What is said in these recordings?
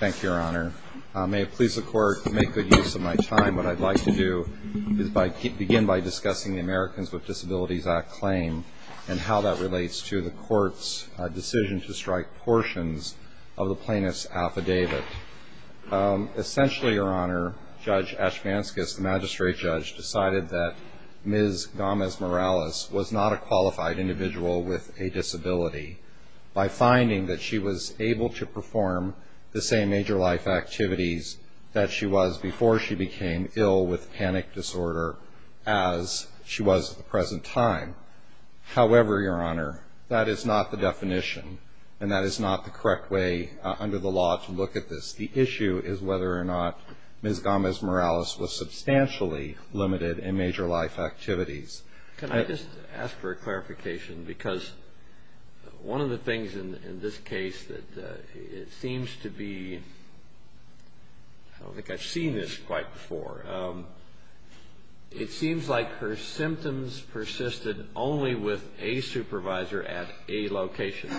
Thank you, Your Honor. May it please the Court to make good use of my time. What I'd like to do is begin by discussing the Americans with Disabilities Act claim and how that relates to the Court's decision to strike portions of the plaintiff's affidavit. Essentially, Your Honor, Judge Ashmanskas, the magistrate judge, decided that Ms. Gomez-Morales was not a qualified individual with a disability. By finding that she was able to perform the same major life activities that she was before she became ill with panic disorder as she was at the present time. However, Your Honor, that is not the definition and that is not the correct way under the law to look at this. The issue is whether or not Ms. Gomez-Morales was substantially limited in major life activities. Can I just ask for a clarification? Because one of the things in this case that it seems to be, I don't think I've seen this quite before, it seems like her symptoms persisted only with a supervisor at a location.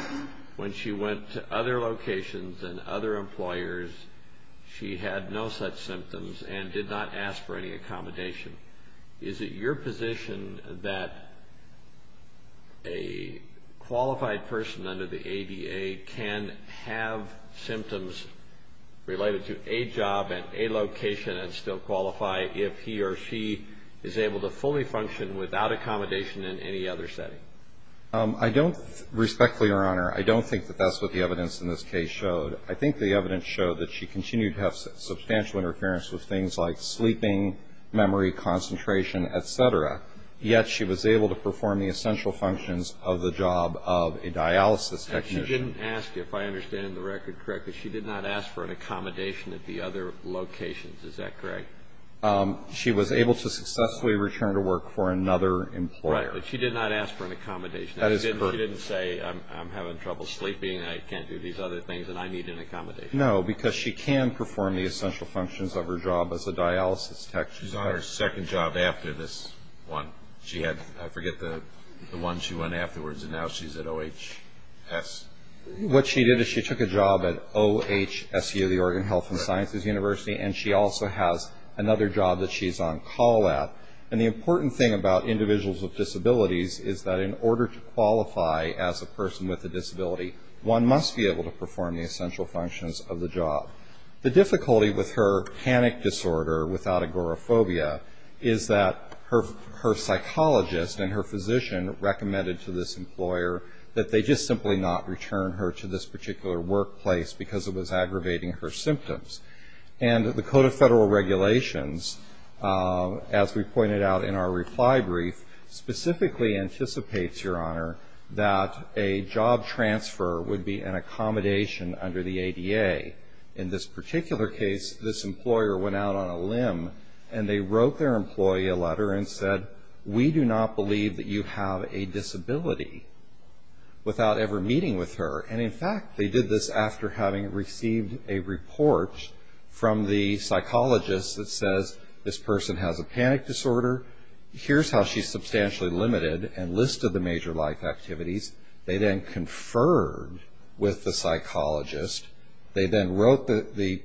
When she went to other locations and other employers, she had no such symptoms and did not ask for any accommodation. Is it your position that a qualified person under the ADA can have symptoms related to a job and a location and still qualify if he or she is able to fully function without accommodation in any other setting? I don't, respectfully, Your Honor, I don't think that that's what the evidence in this case showed. I think the evidence showed that she continued to have substantial interference with things like sleeping, memory, concentration, etc. Yet she was able to perform the essential functions of the job of a dialysis technician. And she didn't ask, if I understand the record correctly, she did not ask for an accommodation at the other locations. Is that correct? She was able to successfully return to work for another employer. Right, but she did not ask for an accommodation. She didn't say, I'm having trouble sleeping, I can't do these other things, and I need an accommodation. No, because she can perform the essential functions of her job as a dialysis technician. She's on her second job after this one. I forget the one she went afterwards, and now she's at OHS. What she did is she took a job at OHSU, the Oregon Health and Sciences University, and she also has another job that she's on call at. And the important thing about individuals with disabilities is that in order to qualify as a person with a disability, one must be able to perform the essential functions of the job. The difficulty with her panic disorder without agoraphobia is that her psychologist and her physician recommended to this employer that they just simply not return her to this particular workplace because it was aggravating her symptoms. And the Code of Federal Regulations, as we pointed out in our reply brief, specifically anticipates, Your Honor, that a job transfer would be an accommodation under the ADA. In this particular case, this employer went out on a limb and they wrote their employee a letter and said, We do not believe that you have a disability without ever meeting with her. And in fact, they did this after having received a report from the psychologist that says, This person has a panic disorder. Here's how she's substantially limited and listed the major life activities. They then conferred with the psychologist. They then wrote the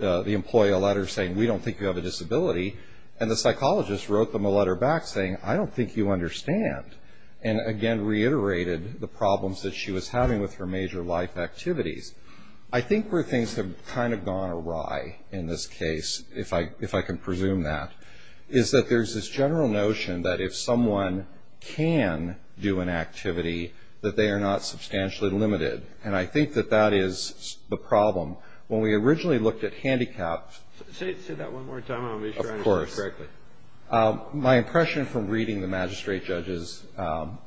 employee a letter saying, We don't think you have a disability. And the psychologist wrote them a letter back saying, I don't think you understand, and again reiterated the problems that she was having with her major life activities. I think where things have kind of gone awry in this case, if I can presume that, is that there's this general notion that if someone can do an activity, that they are not substantially limited, and I think that that is the problem. When we originally looked at handicapped of course, my impression from reading the magistrate judge's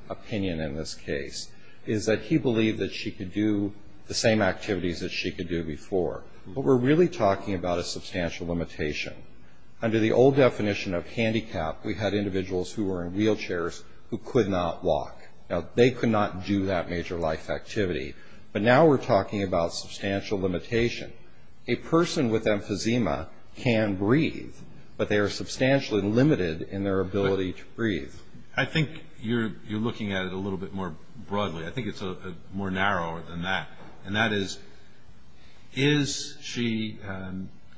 opinion in this case is that he believed that she could do the same activities that she could do before. But we're really talking about a substantial limitation. Under the old definition of handicap, we had individuals who were in wheelchairs who could not walk. Now, they could not do that major life activity, but now we're talking about substantial limitation. A person with emphysema can breathe, but they are substantially limited in their ability to breathe. I think you're looking at it a little bit more broadly. I think it's more narrow than that, and that is, is she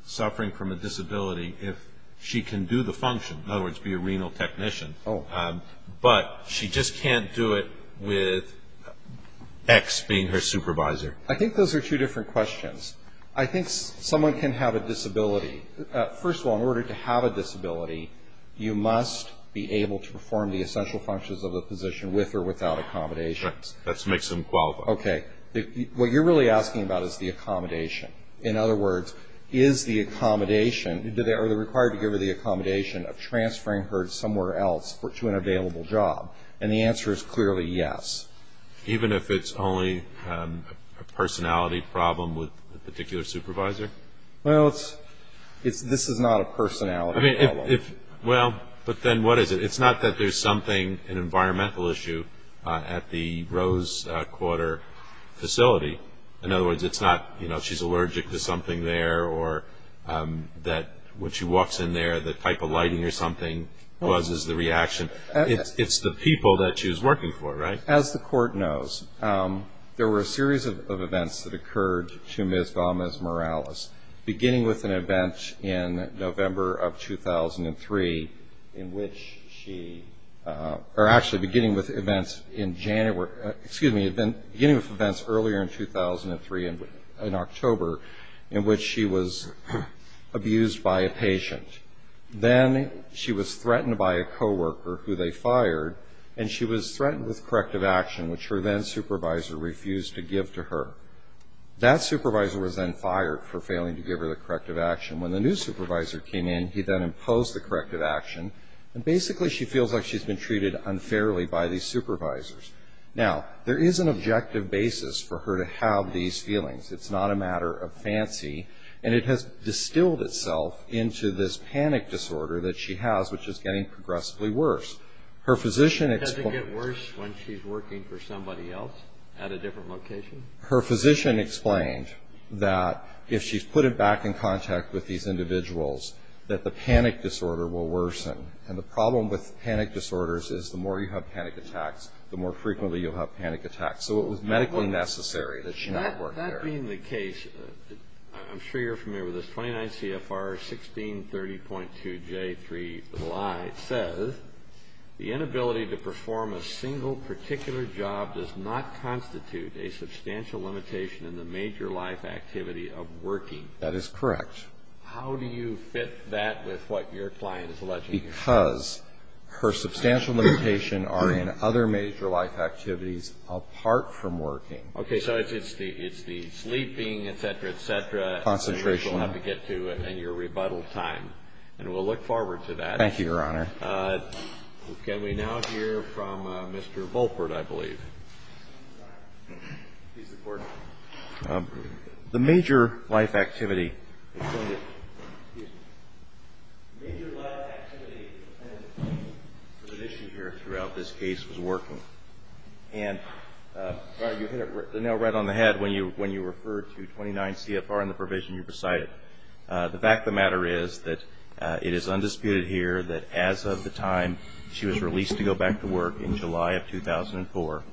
suffering from a disability if she can do the function, in other words, be a renal technician, but she just can't do it with X being her supervisor? I think those are two different questions. I think someone can have a disability. First of all, in order to have a disability, you must be able to perform the essential functions of the position with or without accommodations. Right. That makes them qualified. Okay. What you're really asking about is the accommodation. In other words, is the accommodation, are they required to give her the accommodation of transferring her somewhere else to an available job? And the answer is clearly yes. Even if it's only a personality problem with a particular supervisor? Well, this is not a personality problem. Well, but then what is it? It's not that there's something, an environmental issue at the Rose Quarter facility. In other words, it's not she's allergic to something there or that when she walks in there, the type of lighting or something causes the reaction. It's the people that she's working for, right? As the court knows, there were a series of events that occurred to Ms. Gomez-Morales, beginning with an event in November of 2003 in which she or actually beginning with events in January, excuse me, beginning with events earlier in 2003 in October in which she was abused by a patient. Then she was threatened by a coworker who they fired, and she was threatened with corrective action, which her then supervisor refused to give to her. That supervisor was then fired for failing to give her the corrective action. When the new supervisor came in, he then imposed the corrective action, and basically she feels like she's been treated unfairly by these supervisors. Now, there is an objective basis for her to have these feelings. It's not a matter of fancy, and it has distilled itself into this panic disorder that she has, which is getting progressively worse. Her physician explained... Doesn't it get worse when she's working for somebody else at a different location? Her physician explained that if she's put it back in contact with these individuals, that the panic disorder will worsen. And the problem with panic disorders is the more you have panic attacks, the more frequently you'll have panic attacks. So it was medically necessary that she not work there. That being the case, I'm sure you're familiar with this, 29 CFR 1630.2J3-I says, the inability to perform a single particular job does not constitute a substantial limitation in the major life activity of working. That is correct. How do you fit that with what your client is alleging? Because her substantial limitations are in other major life activities apart from working. Okay. So it's the sleeping, et cetera, et cetera... Concentration. ...that you'll have to get to in your rebuttal time. And we'll look forward to that. Thank you, Your Honor. Can we now hear from Mr. Volpert, I believe? Please report. The major life activity... Major life activity and limitations here throughout this case was working. And, Your Honor, you hit the nail right on the head when you referred to 29 CFR and the provision you recited. The fact of the matter is that it is undisputed here that as of the time she was released to go back to work in July of 2004,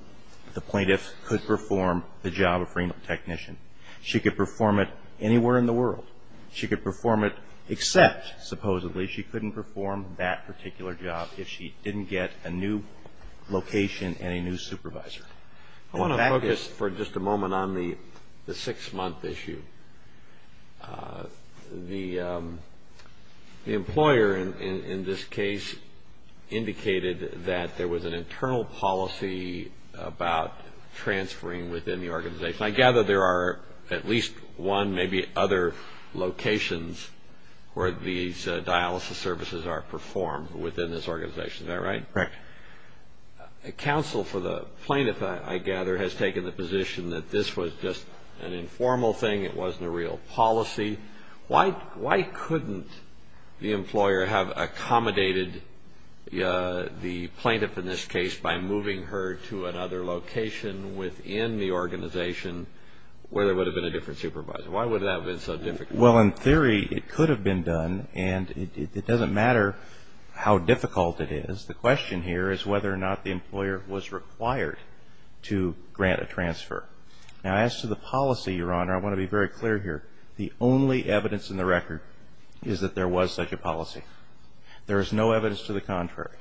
the plaintiff could perform the job of renal technician. She could perform it anywhere in the world. She could perform it except, supposedly, she couldn't perform that particular job if she didn't get a new location and a new supervisor. I want to focus for just a moment on the six-month issue. The employer in this case indicated that there was an internal policy about transferring within the organization. I gather there are at least one, maybe other locations where these dialysis services are performed within this organization. Is that right? Correct. Counsel for the plaintiff, I gather, has taken the position that this was just an informal thing. It wasn't a real policy. Why couldn't the employer have accommodated the plaintiff in this case by moving her to another location within the organization where there would have been a different supervisor? Why would that have been so difficult? Well, in theory, it could have been done, and it doesn't matter how difficult it is. The question here is whether or not the employer was required to grant a transfer. Now, as to the policy, Your Honor, I want to be very clear here. The only evidence in the record is that there was such a policy. There is no evidence to the contrary.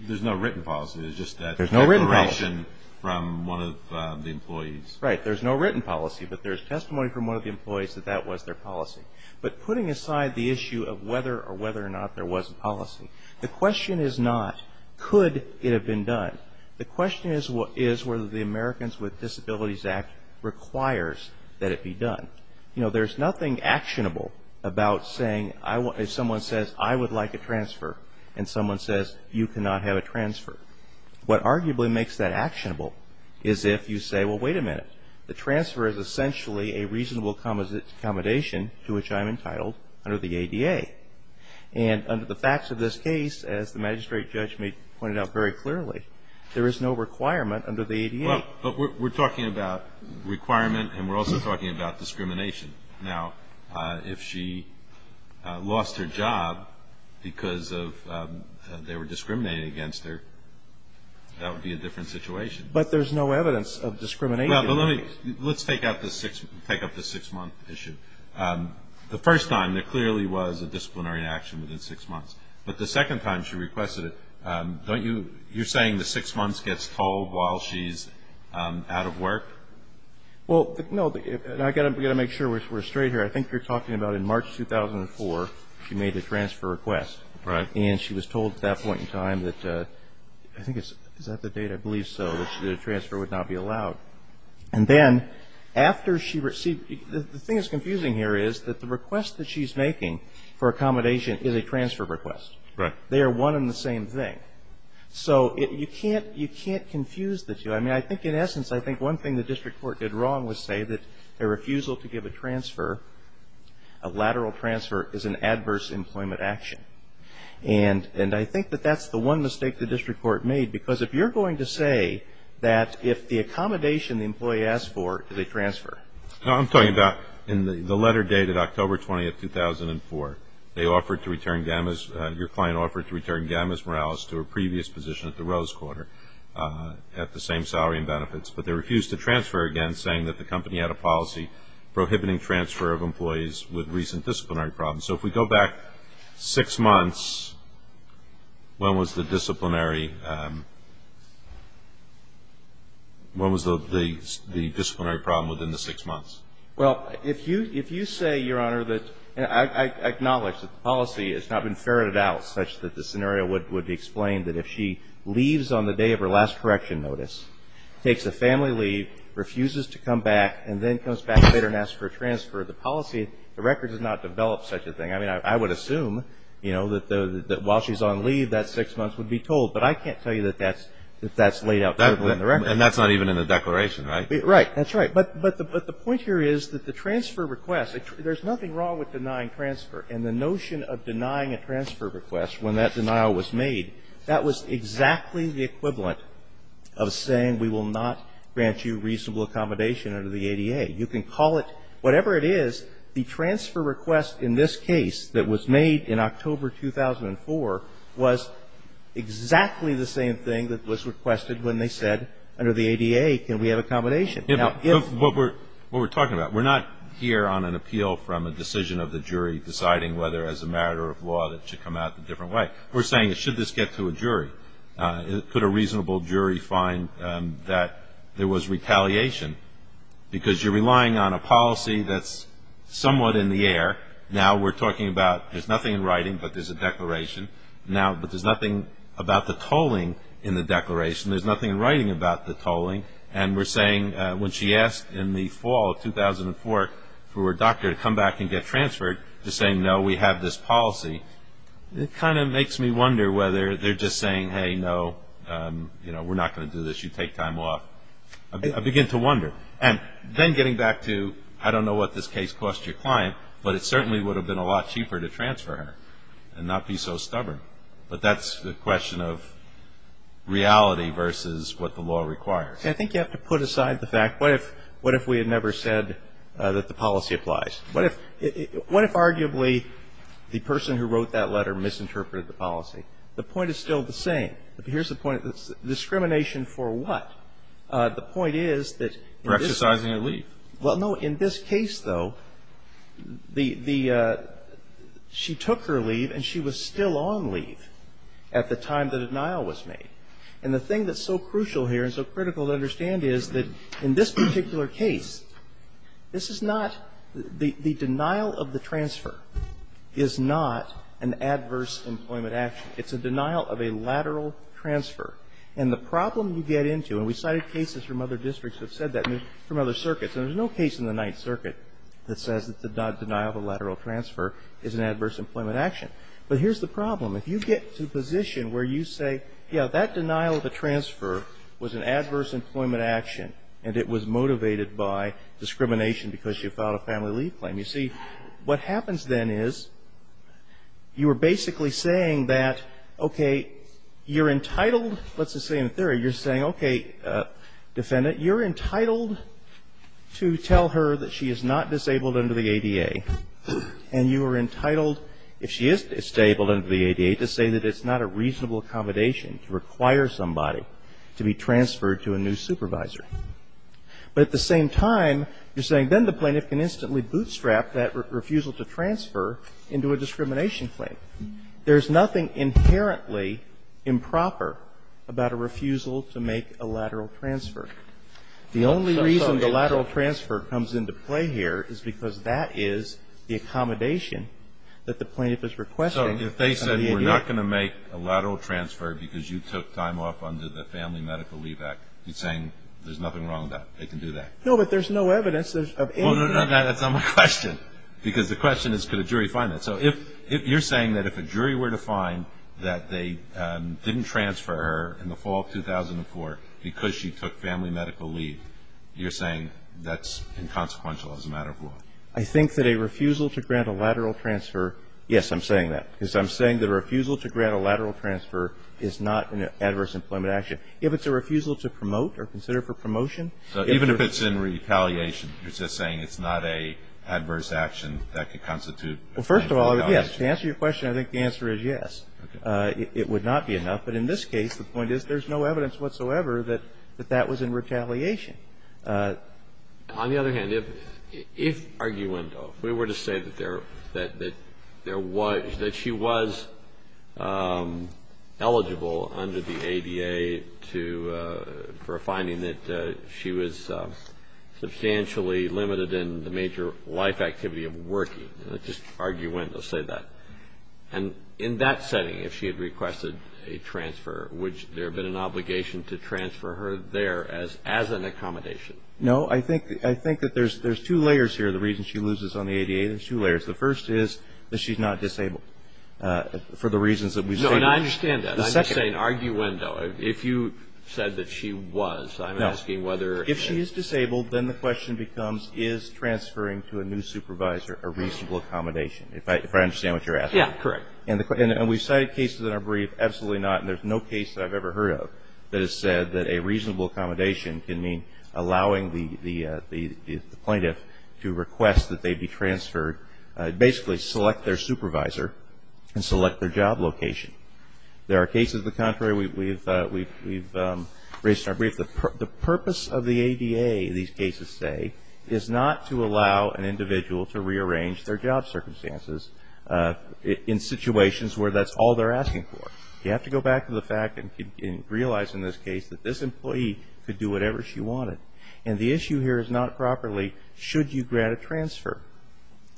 There's no written policy. There's just a declaration from one of the employees. Right. There's no written policy, but there's testimony from one of the employees that that was their policy. But putting aside the issue of whether or whether or not there was a policy, the question is not could it have been done. The question is whether the Americans with Disabilities Act requires that it be done. You know, there's nothing actionable about saying if someone says I would like a transfer and someone says you cannot have a transfer. What arguably makes that actionable is if you say, well, wait a minute. The transfer is essentially a reasonable accommodation to which I'm entitled under the ADA. And under the facts of this case, as the magistrate judge pointed out very clearly, there is no requirement under the ADA. Well, but we're talking about requirement and we're also talking about discrimination. Now, if she lost her job because of they were discriminating against her, that would be a different situation. But there's no evidence of discrimination. Well, but let's take up the six-month issue. The first time there clearly was a disciplinary action within six months. But the second time she requested it, don't you you're saying the six months gets told while she's out of work? Well, no, we've got to make sure we're straight here. I think you're talking about in March 2004 she made a transfer request. Right. And she was told at that point in time that I think is that the date, I believe so, that the transfer would not be allowed. And then after she received, the thing that's confusing here is that the request that she's making for accommodation is a transfer request. Right. They are one and the same thing. So you can't confuse the two. I mean, I think in essence I think one thing the district court did wrong was say that a refusal to give a transfer, a lateral transfer is an adverse employment action. And I think that that's the one mistake the district court made because if you're going to say that if the accommodation the employee asks for is a transfer. I'm talking about in the letter dated October 20th, 2004. They offered to return Gammas, your client offered to return Gammas Morales to her previous position at the Rose Quarter at the same salary and benefits. But they refused to transfer again saying that the company had a policy prohibiting transfer of employees with recent disciplinary problems. So if we go back six months, when was the disciplinary, when was the disciplinary problem within the six months? Well, if you say, Your Honor, that I acknowledge that the policy has not been ferreted out such that the scenario would be explained that if she leaves on the day of her last correction notice, takes a family leave, refuses to come back, and then comes back later and asks for a transfer, the policy, the record does not develop such a thing. I mean, I would assume, you know, that while she's on leave, that six months would be told. But I can't tell you that that's laid out clearly in the record. And that's not even in the declaration, right? Right. That's right. But the point here is that the transfer request, there's nothing wrong with denying transfer. And the notion of denying a transfer request when that denial was made, that was exactly the equivalent of saying we will not grant you reasonable accommodation under the ADA. You can call it whatever it is. The transfer request in this case that was made in October 2004 was exactly the same thing that was requested when they said under the ADA can we have accommodation. Yeah, but what we're talking about, we're not here on an appeal from a decision of the jury deciding whether as a matter of law that it should come out a different way. We're saying should this get to a jury? Could a reasonable jury find that there was retaliation? Because you're relying on a policy that's somewhat in the air. Now we're talking about there's nothing in writing but there's a declaration. Now, but there's nothing about the tolling in the declaration. There's nothing in writing about the tolling. And we're saying when she asked in the fall of 2004 for her doctor to come back and get transferred to say, no, we have this policy. It kind of makes me wonder whether they're just saying, hey, no, we're not going to do this. You take time off. I begin to wonder. And then getting back to I don't know what this case cost your client, but it certainly would have been a lot cheaper to transfer her and not be so stubborn. But that's the question of reality versus what the law requires. I think you have to put aside the fact, what if we had never said that the policy applies? What if arguably the person who wrote that letter misinterpreted the policy? The point is still the same. Here's the point. Discrimination for what? The point is that in this case. For exercising her leave. Well, no. In this case, though, the she took her leave and she was still on leave at the time the denial was made. And the thing that's so crucial here and so critical to understand is that in this case, the denial of the transfer is not an adverse employment action. It's a denial of a lateral transfer. And the problem you get into, and we cited cases from other districts that said that and from other circuits, and there's no case in the Ninth Circuit that says that the denial of a lateral transfer is an adverse employment action. But here's the problem. If you get to a position where you say, yeah, that denial of a transfer was an adverse employment action and it was motivated by discrimination because she filed a family leave claim, you see, what happens then is you are basically saying that, okay, you're entitled, let's just say in theory, you're saying, okay, defendant, you're entitled to tell her that she is not disabled under the ADA. And you are entitled, if she is disabled under the ADA, to say that it's not a reasonable accommodation to require somebody to be transferred to a new supervisor. But at the same time, you're saying then the plaintiff can instantly bootstrap that refusal to transfer into a discrimination claim. There's nothing inherently improper about a refusal to make a lateral transfer. The only reason the lateral transfer comes into play here is because that is the accommodation that the plaintiff is requesting. So if they said we're not going to make a lateral transfer because you took time off under the Family Medical Leave Act, you're saying there's nothing wrong with that, they can do that. No, but there's no evidence of any of that. Well, no, no, that's not my question. Because the question is could a jury find that. So if you're saying that if a jury were to find that they didn't transfer her in the fall of 2004 because she took family medical leave, you're saying that's inconsequential as a matter of law. I think that a refusal to grant a lateral transfer, yes, I'm saying that. Because I'm saying that a refusal to grant a lateral transfer is not an adverse employment action. If it's a refusal to promote or consider for promotion. So even if it's in retaliation, you're just saying it's not an adverse action that could constitute. Well, first of all, yes. To answer your question, I think the answer is yes. It would not be enough. But in this case, the point is there's no evidence whatsoever that that was in retaliation. On the other hand, if arguendo, if we were to say that there was, that she was eligible under the ADA for a finding that she was substantially limited in the major life activity of working, just arguendo, say that. And in that setting, if she had requested a transfer, would there have been an obligation to transfer her there as an accommodation? No. I think that there's two layers here, the reason she loses on the ADA. There's two layers. The first is that she's not disabled for the reasons that we've stated. No. And I understand that. I'm just saying arguendo. If you said that she was, I'm asking whether. No. If she is disabled, then the question becomes is transferring to a new supervisor a reasonable accommodation, if I understand what you're asking. Yeah. Correct. And we've cited cases in our brief. Absolutely not. And there's no case that I've ever heard of that has said that a reasonable accommodation can mean allowing the plaintiff to request that they be transferred, basically select their supervisor and select their job location. There are cases of the contrary. We've raised in our brief. The purpose of the ADA, these cases say, is not to allow an individual to rearrange their job circumstances in situations where that's all they're asking for. You have to go back to the fact and realize in this case that this employee could do whatever she wanted. And the issue here is not properly should you grant a transfer.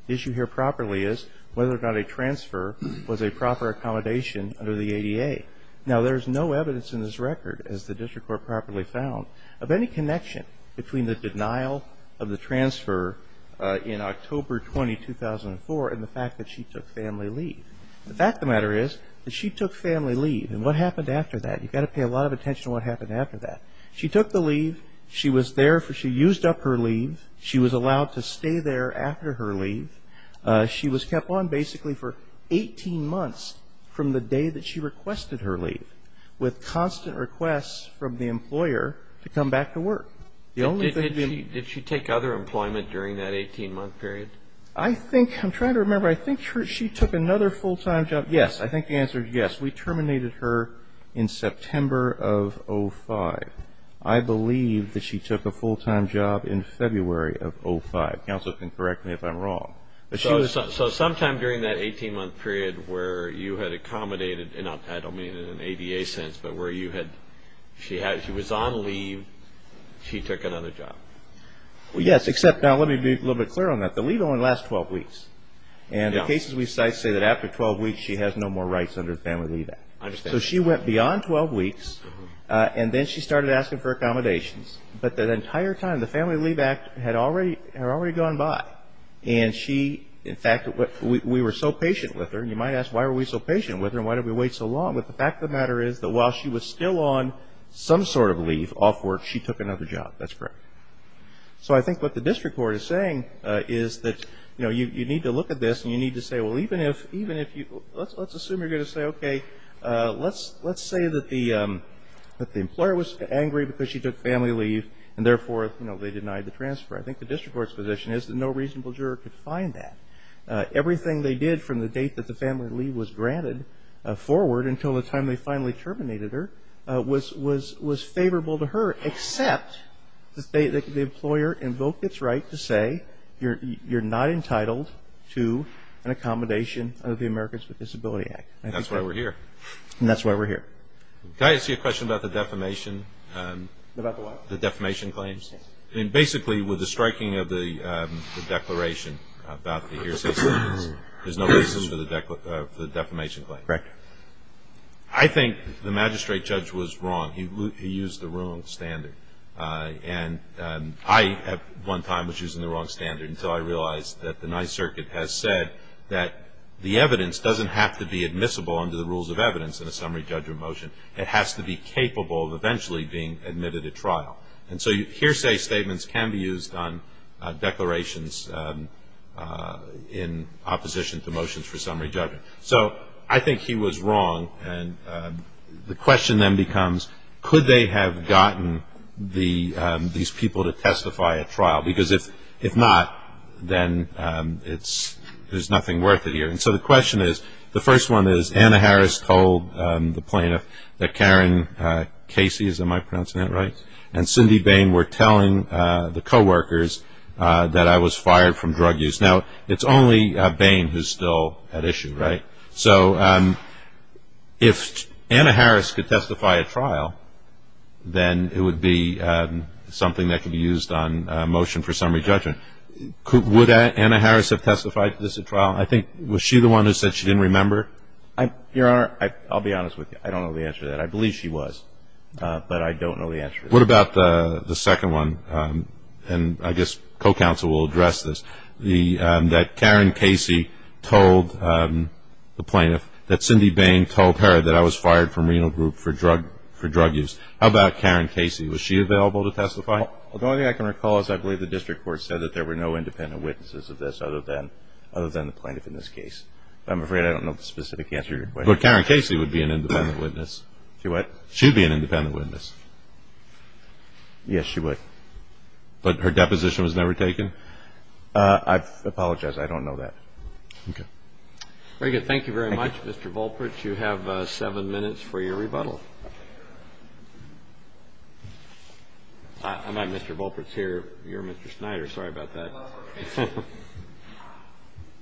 The issue here properly is whether or not a transfer was a proper accommodation under the ADA. Now, there's no evidence in this record, as the district court properly found, of any connection between the denial of the transfer in October 20, 2004 and the fact that she took family leave. The fact of the matter is that she took family leave. And what happened after that? You've got to pay a lot of attention to what happened after that. She took the leave. She was there. She used up her leave. She was allowed to stay there after her leave. She was kept on basically for 18 months from the day that she requested her leave with constant requests from the employer to come back to work. The only thing to do Did she take other employment during that 18-month period? I'm trying to remember. I think she took another full-time job. Yes. I think the answer is yes. We terminated her in September of 2005. I believe that she took a full-time job in February of 2005. Counsel can correct me if I'm wrong. So sometime during that 18-month period where you had accommodated, I don't mean in an ADA sense, but where she was on leave, she took another job. Yes, except now let me be a little bit clearer on that. The leave only lasts 12 weeks. And the cases we cite say that after 12 weeks she has no more rights under the Family Leave Act. I understand. So she went beyond 12 weeks, and then she started asking for accommodations. But the entire time, the Family Leave Act had already gone by. And she, in fact, we were so patient with her. You might ask why were we so patient with her and why did we wait so long? But the fact of the matter is that while she was still on some sort of leave off work, she took another job. That's correct. So I think what the district court is saying is that, you know, you need to look at this and you need to say, well, even if you, let's assume you're going to say, okay, let's say that the employer was angry because she took family leave and therefore, you know, they denied the transfer. I think the district court's position is that no reasonable juror could find that. Everything they did from the date that the family leave was granted forward until the time they finally terminated her was favorable to her, except the employer invoked its right to say you're not entitled to an accommodation of the Americans with Disabilities Act. That's why we're here. And that's why we're here. Can I ask you a question about the defamation? About what? The defamation claims. Basically, with the striking of the declaration about the hearsay sentence, there's no reason for the defamation claim. Correct. I think the magistrate judge was wrong. He used the wrong standard. And I, at one time, was using the wrong standard until I realized that the Ninth Circuit has said that the evidence doesn't have to be admissible under the rules of evidence in a summary judgment motion. It has to be capable of eventually being admitted at trial. And so hearsay statements can be used on declarations in opposition to motions for summary judgment. So I think he was wrong. And the question then becomes, could they have gotten these people to testify at trial? Because if not, then there's nothing worth it here. And so the question is, the first one is, Anna Harris told the plaintiff that Karen Casey, am I pronouncing that right, and Cindy Bain were telling the co-workers that I was fired from drug use. Now, it's only Bain who's still at issue, right? So if Anna Harris could testify at trial, then it would be something that could be used on motion for summary judgment. Would Anna Harris have testified to this at trial? I think, was she the one who said she didn't remember? Your Honor, I'll be honest with you. I don't know the answer to that. I believe she was, but I don't know the answer. What about the second one? And I guess co-counsel will address this. That Karen Casey told the plaintiff, that Cindy Bain told her that I was fired from renal group for drug use. How about Karen Casey? Was she available to testify? The only thing I can recall is I believe the district court said that there were no independent witnesses of this other than the plaintiff in this case. But I'm afraid I don't know the specific answer to your question. But Karen Casey would be an independent witness. She would? She would be an independent witness. Yes, she would. But her deposition was never taken? I apologize. I don't know that. Okay. Very good. Thank you very much, Mr. Volpitz. You have seven minutes for your rebuttal. I'm not Mr. Volpitz here. You're Mr. Snyder. Sorry about that.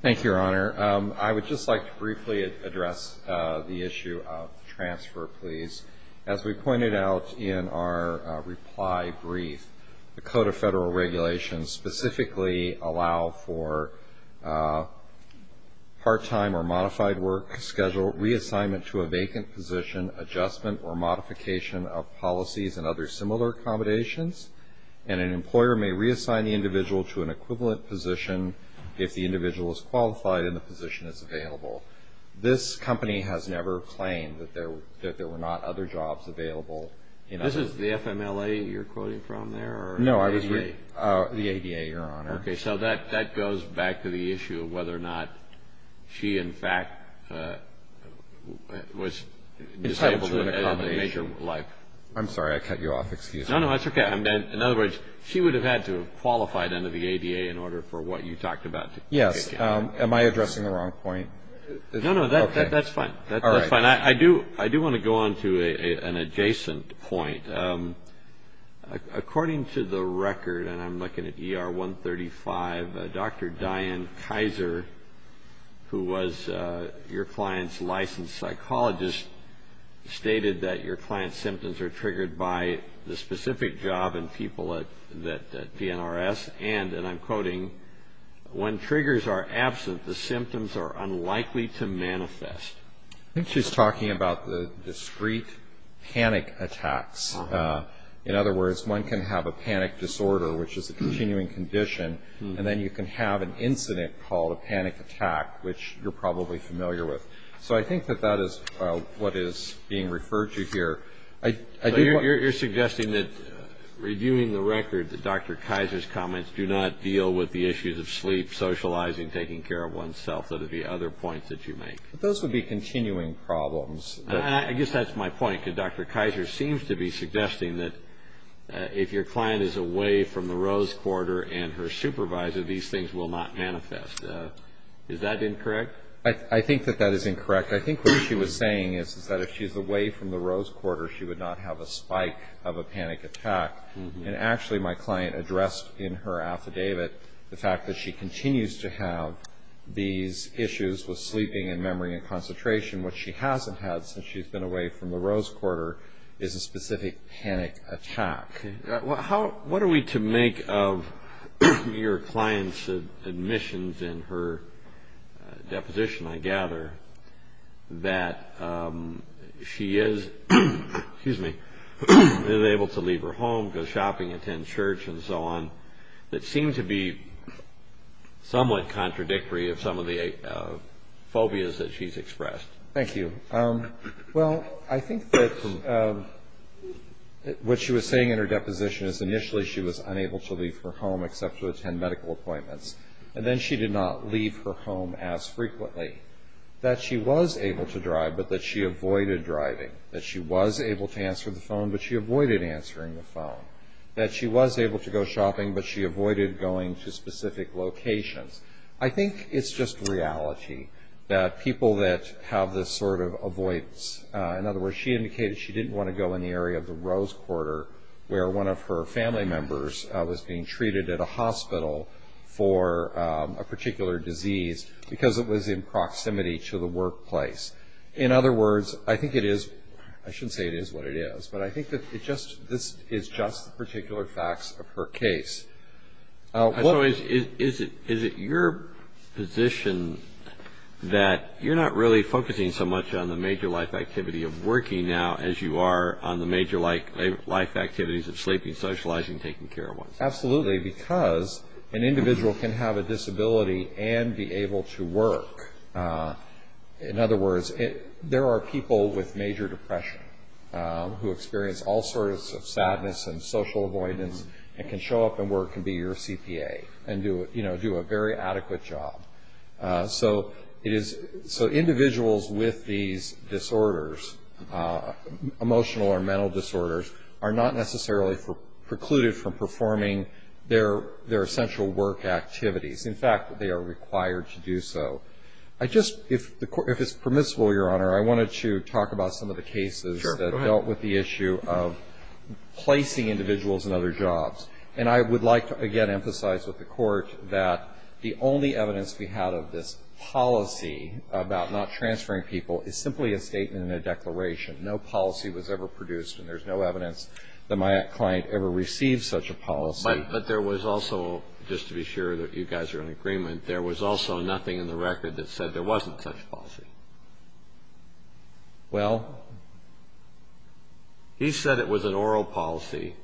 Thank you, Your Honor. I would just like to briefly address the issue of transfer, please. As we pointed out in our reply brief, the Code of Federal Regulations specifically allow for part-time or modified work schedule reassignment to a vacant position, adjustment or modification of policies and other similar accommodations, and an employer may reassign the individual to an equivalent position if the individual is qualified and the position is available. This company has never claimed that there were not other jobs available. This is the FMLA you're quoting from there? No, the ADA, Your Honor. Okay. So that goes back to the issue of whether or not she in fact was entitled to an accommodation. I'm sorry. I cut you off. Excuse me. No, no. That's okay. In other words, she would have had to have qualified under the ADA in order for what you talked about. Yes. Am I addressing the wrong point? No, no. That's fine. That's fine. I do want to go on to an adjacent point. According to the record, and I'm looking at ER 135, Dr. Diane Kaiser, who was your client's licensed psychologist, stated that your client's symptoms are triggered by the specific job and people at PNRS, and, and I'm quoting, when triggers are absent the symptoms are unlikely to manifest. I think she's talking about the discrete panic attacks. In other words, one can have a panic disorder, which is a continuing condition, and then you can have an incident called a panic attack, which you're probably familiar with. So I think that that is what is being referred to here. You're suggesting that, reviewing the record, that Dr. Kaiser's comments do not deal with the issues of sleep, socializing, taking care of oneself. Those are the other points that you make. Those would be continuing problems. I guess that's my point, because Dr. Kaiser seems to be suggesting that if your client is away from the Rose Quarter and her supervisor, these things will not manifest. Is that incorrect? I think that that is incorrect. I think what she was saying is that if she's away from the Rose Quarter, she would not have a spike of a panic attack. And actually my client addressed in her affidavit the fact that she continues to have these issues with sleeping and memory and concentration, which she hasn't had since she's been away from the Rose Quarter, is a specific panic attack. What are we to make of your client's admissions in her deposition, I gather, that she is able to leave her home, go shopping, attend church, and so on, that seem to be somewhat contradictory of some of the phobias that she's expressed? Thank you. Well, I think that what she was saying in her deposition is initially she was unable to leave her home except to attend medical appointments, and then she did not leave her home as frequently. That she was able to drive, but that she avoided driving. That she was able to answer the phone, but she avoided answering the phone. That she was able to go shopping, but she avoided going to specific locations. I think it's just reality that people that have this sort of avoidance. In other words, she indicated she didn't want to go in the area of the Rose Quarter, where one of her family members was being treated at a hospital for a particular disease because it was in proximity to the workplace. In other words, I think it is – I shouldn't say it is what it is, but I think this is just the particular facts of her case. So is it your position that you're not really focusing so much on the major life activity of working now as you are on the major life activities of sleeping, socializing, taking care of ones? Absolutely, because an individual can have a disability and be able to work. In other words, there are people with major depression who experience all sorts of social avoidance and can show up and work and be your CPA and do a very adequate job. So individuals with these disorders, emotional or mental disorders, are not necessarily precluded from performing their essential work activities. In fact, they are required to do so. If it's permissible, Your Honor, I wanted to talk about some of the cases that dealt with the issue of placing individuals in other jobs. And I would like to, again, emphasize with the Court that the only evidence we had of this policy about not transferring people is simply a statement in a declaration. No policy was ever produced, and there's no evidence that my client ever received such a policy. But there was also – just to be sure that you guys are in agreement – there was also nothing in the record that said there wasn't such a policy. Well? He said it was an oral policy.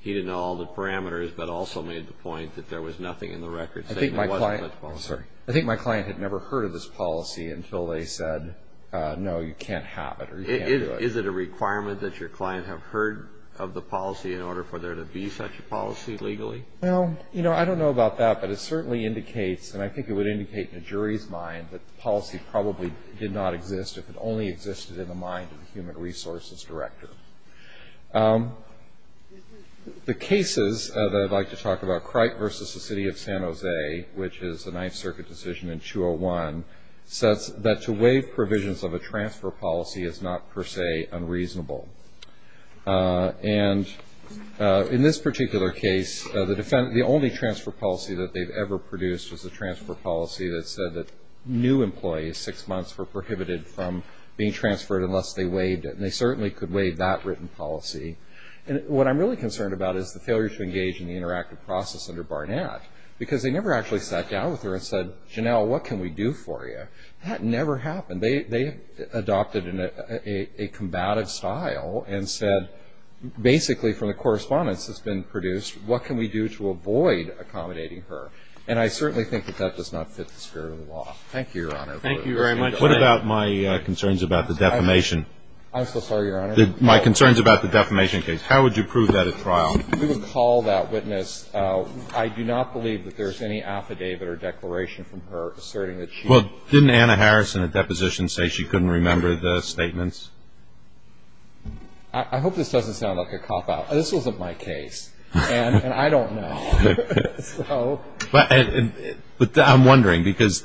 He didn't know all the parameters, but also made the point that there was nothing in the record saying there wasn't such a policy. I think my client had never heard of this policy until they said, no, you can't have it or you can't do it. Is it a requirement that your client have heard of the policy in order for there to be such a policy legally? Well, you know, I don't know about that, but it certainly indicates, and I think it would indicate in a jury's mind that the policy probably did not exist if it only existed in the mind of the Human Resources Director. The cases that I'd like to talk about, Cripe versus the City of San Jose, which is a Ninth Circuit decision in 201, says that to waive provisions of a transfer policy is not per se unreasonable. And in this particular case, the only transfer policy that they've ever produced was a transfer policy that said that new employees six months were prohibited from being transferred unless they waived it. And they certainly could waive that written policy. And what I'm really concerned about is the failure to engage in the interactive process under Barnett because they never actually sat down with her and said, Janelle, what can we do for you? That never happened. They adopted a combative style and said basically from the correspondence that's been produced, what can we do to avoid accommodating her? And I certainly think that that does not fit the spirit of the law. Thank you, Your Honor. Thank you very much. What about my concerns about the defamation? I'm so sorry, Your Honor. My concerns about the defamation case. How would you prove that at trial? We would call that witness. I do not believe that there's any affidavit or declaration from her asserting that she ---- Well, didn't Anna Harrison at deposition say she couldn't remember the statements? I hope this doesn't sound like a cop-out. This wasn't my case, and I don't know. But I'm wondering because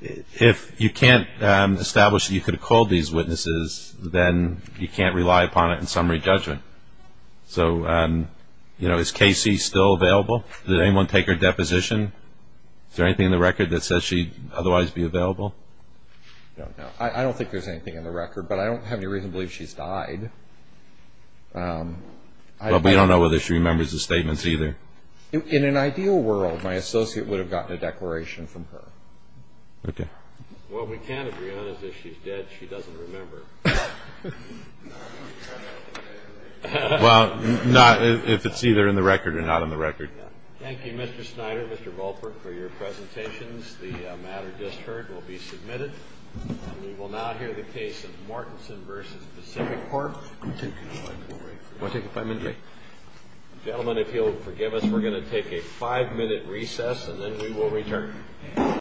if you can't establish that you could have called these witnesses, then you can't rely upon it in summary judgment. So is Casey still available? Did anyone take her deposition? Is there anything in the record that says she'd otherwise be available? I don't know. I don't think there's anything in the record, but I don't have any reason to believe she's died. But we don't know whether she remembers the statements either. In an ideal world, my associate would have gotten a declaration from her. Okay. What we can agree on is if she's dead, she doesn't remember. Well, not if it's either in the record or not in the record. Thank you, Mr. Snyder, Mr. Volper, for your presentations. The matter just heard will be submitted. We will now hear the case of Martinson v. Pacific Court. Gentlemen, if you'll forgive us, we're going to take a five-minute recess, and then we will return.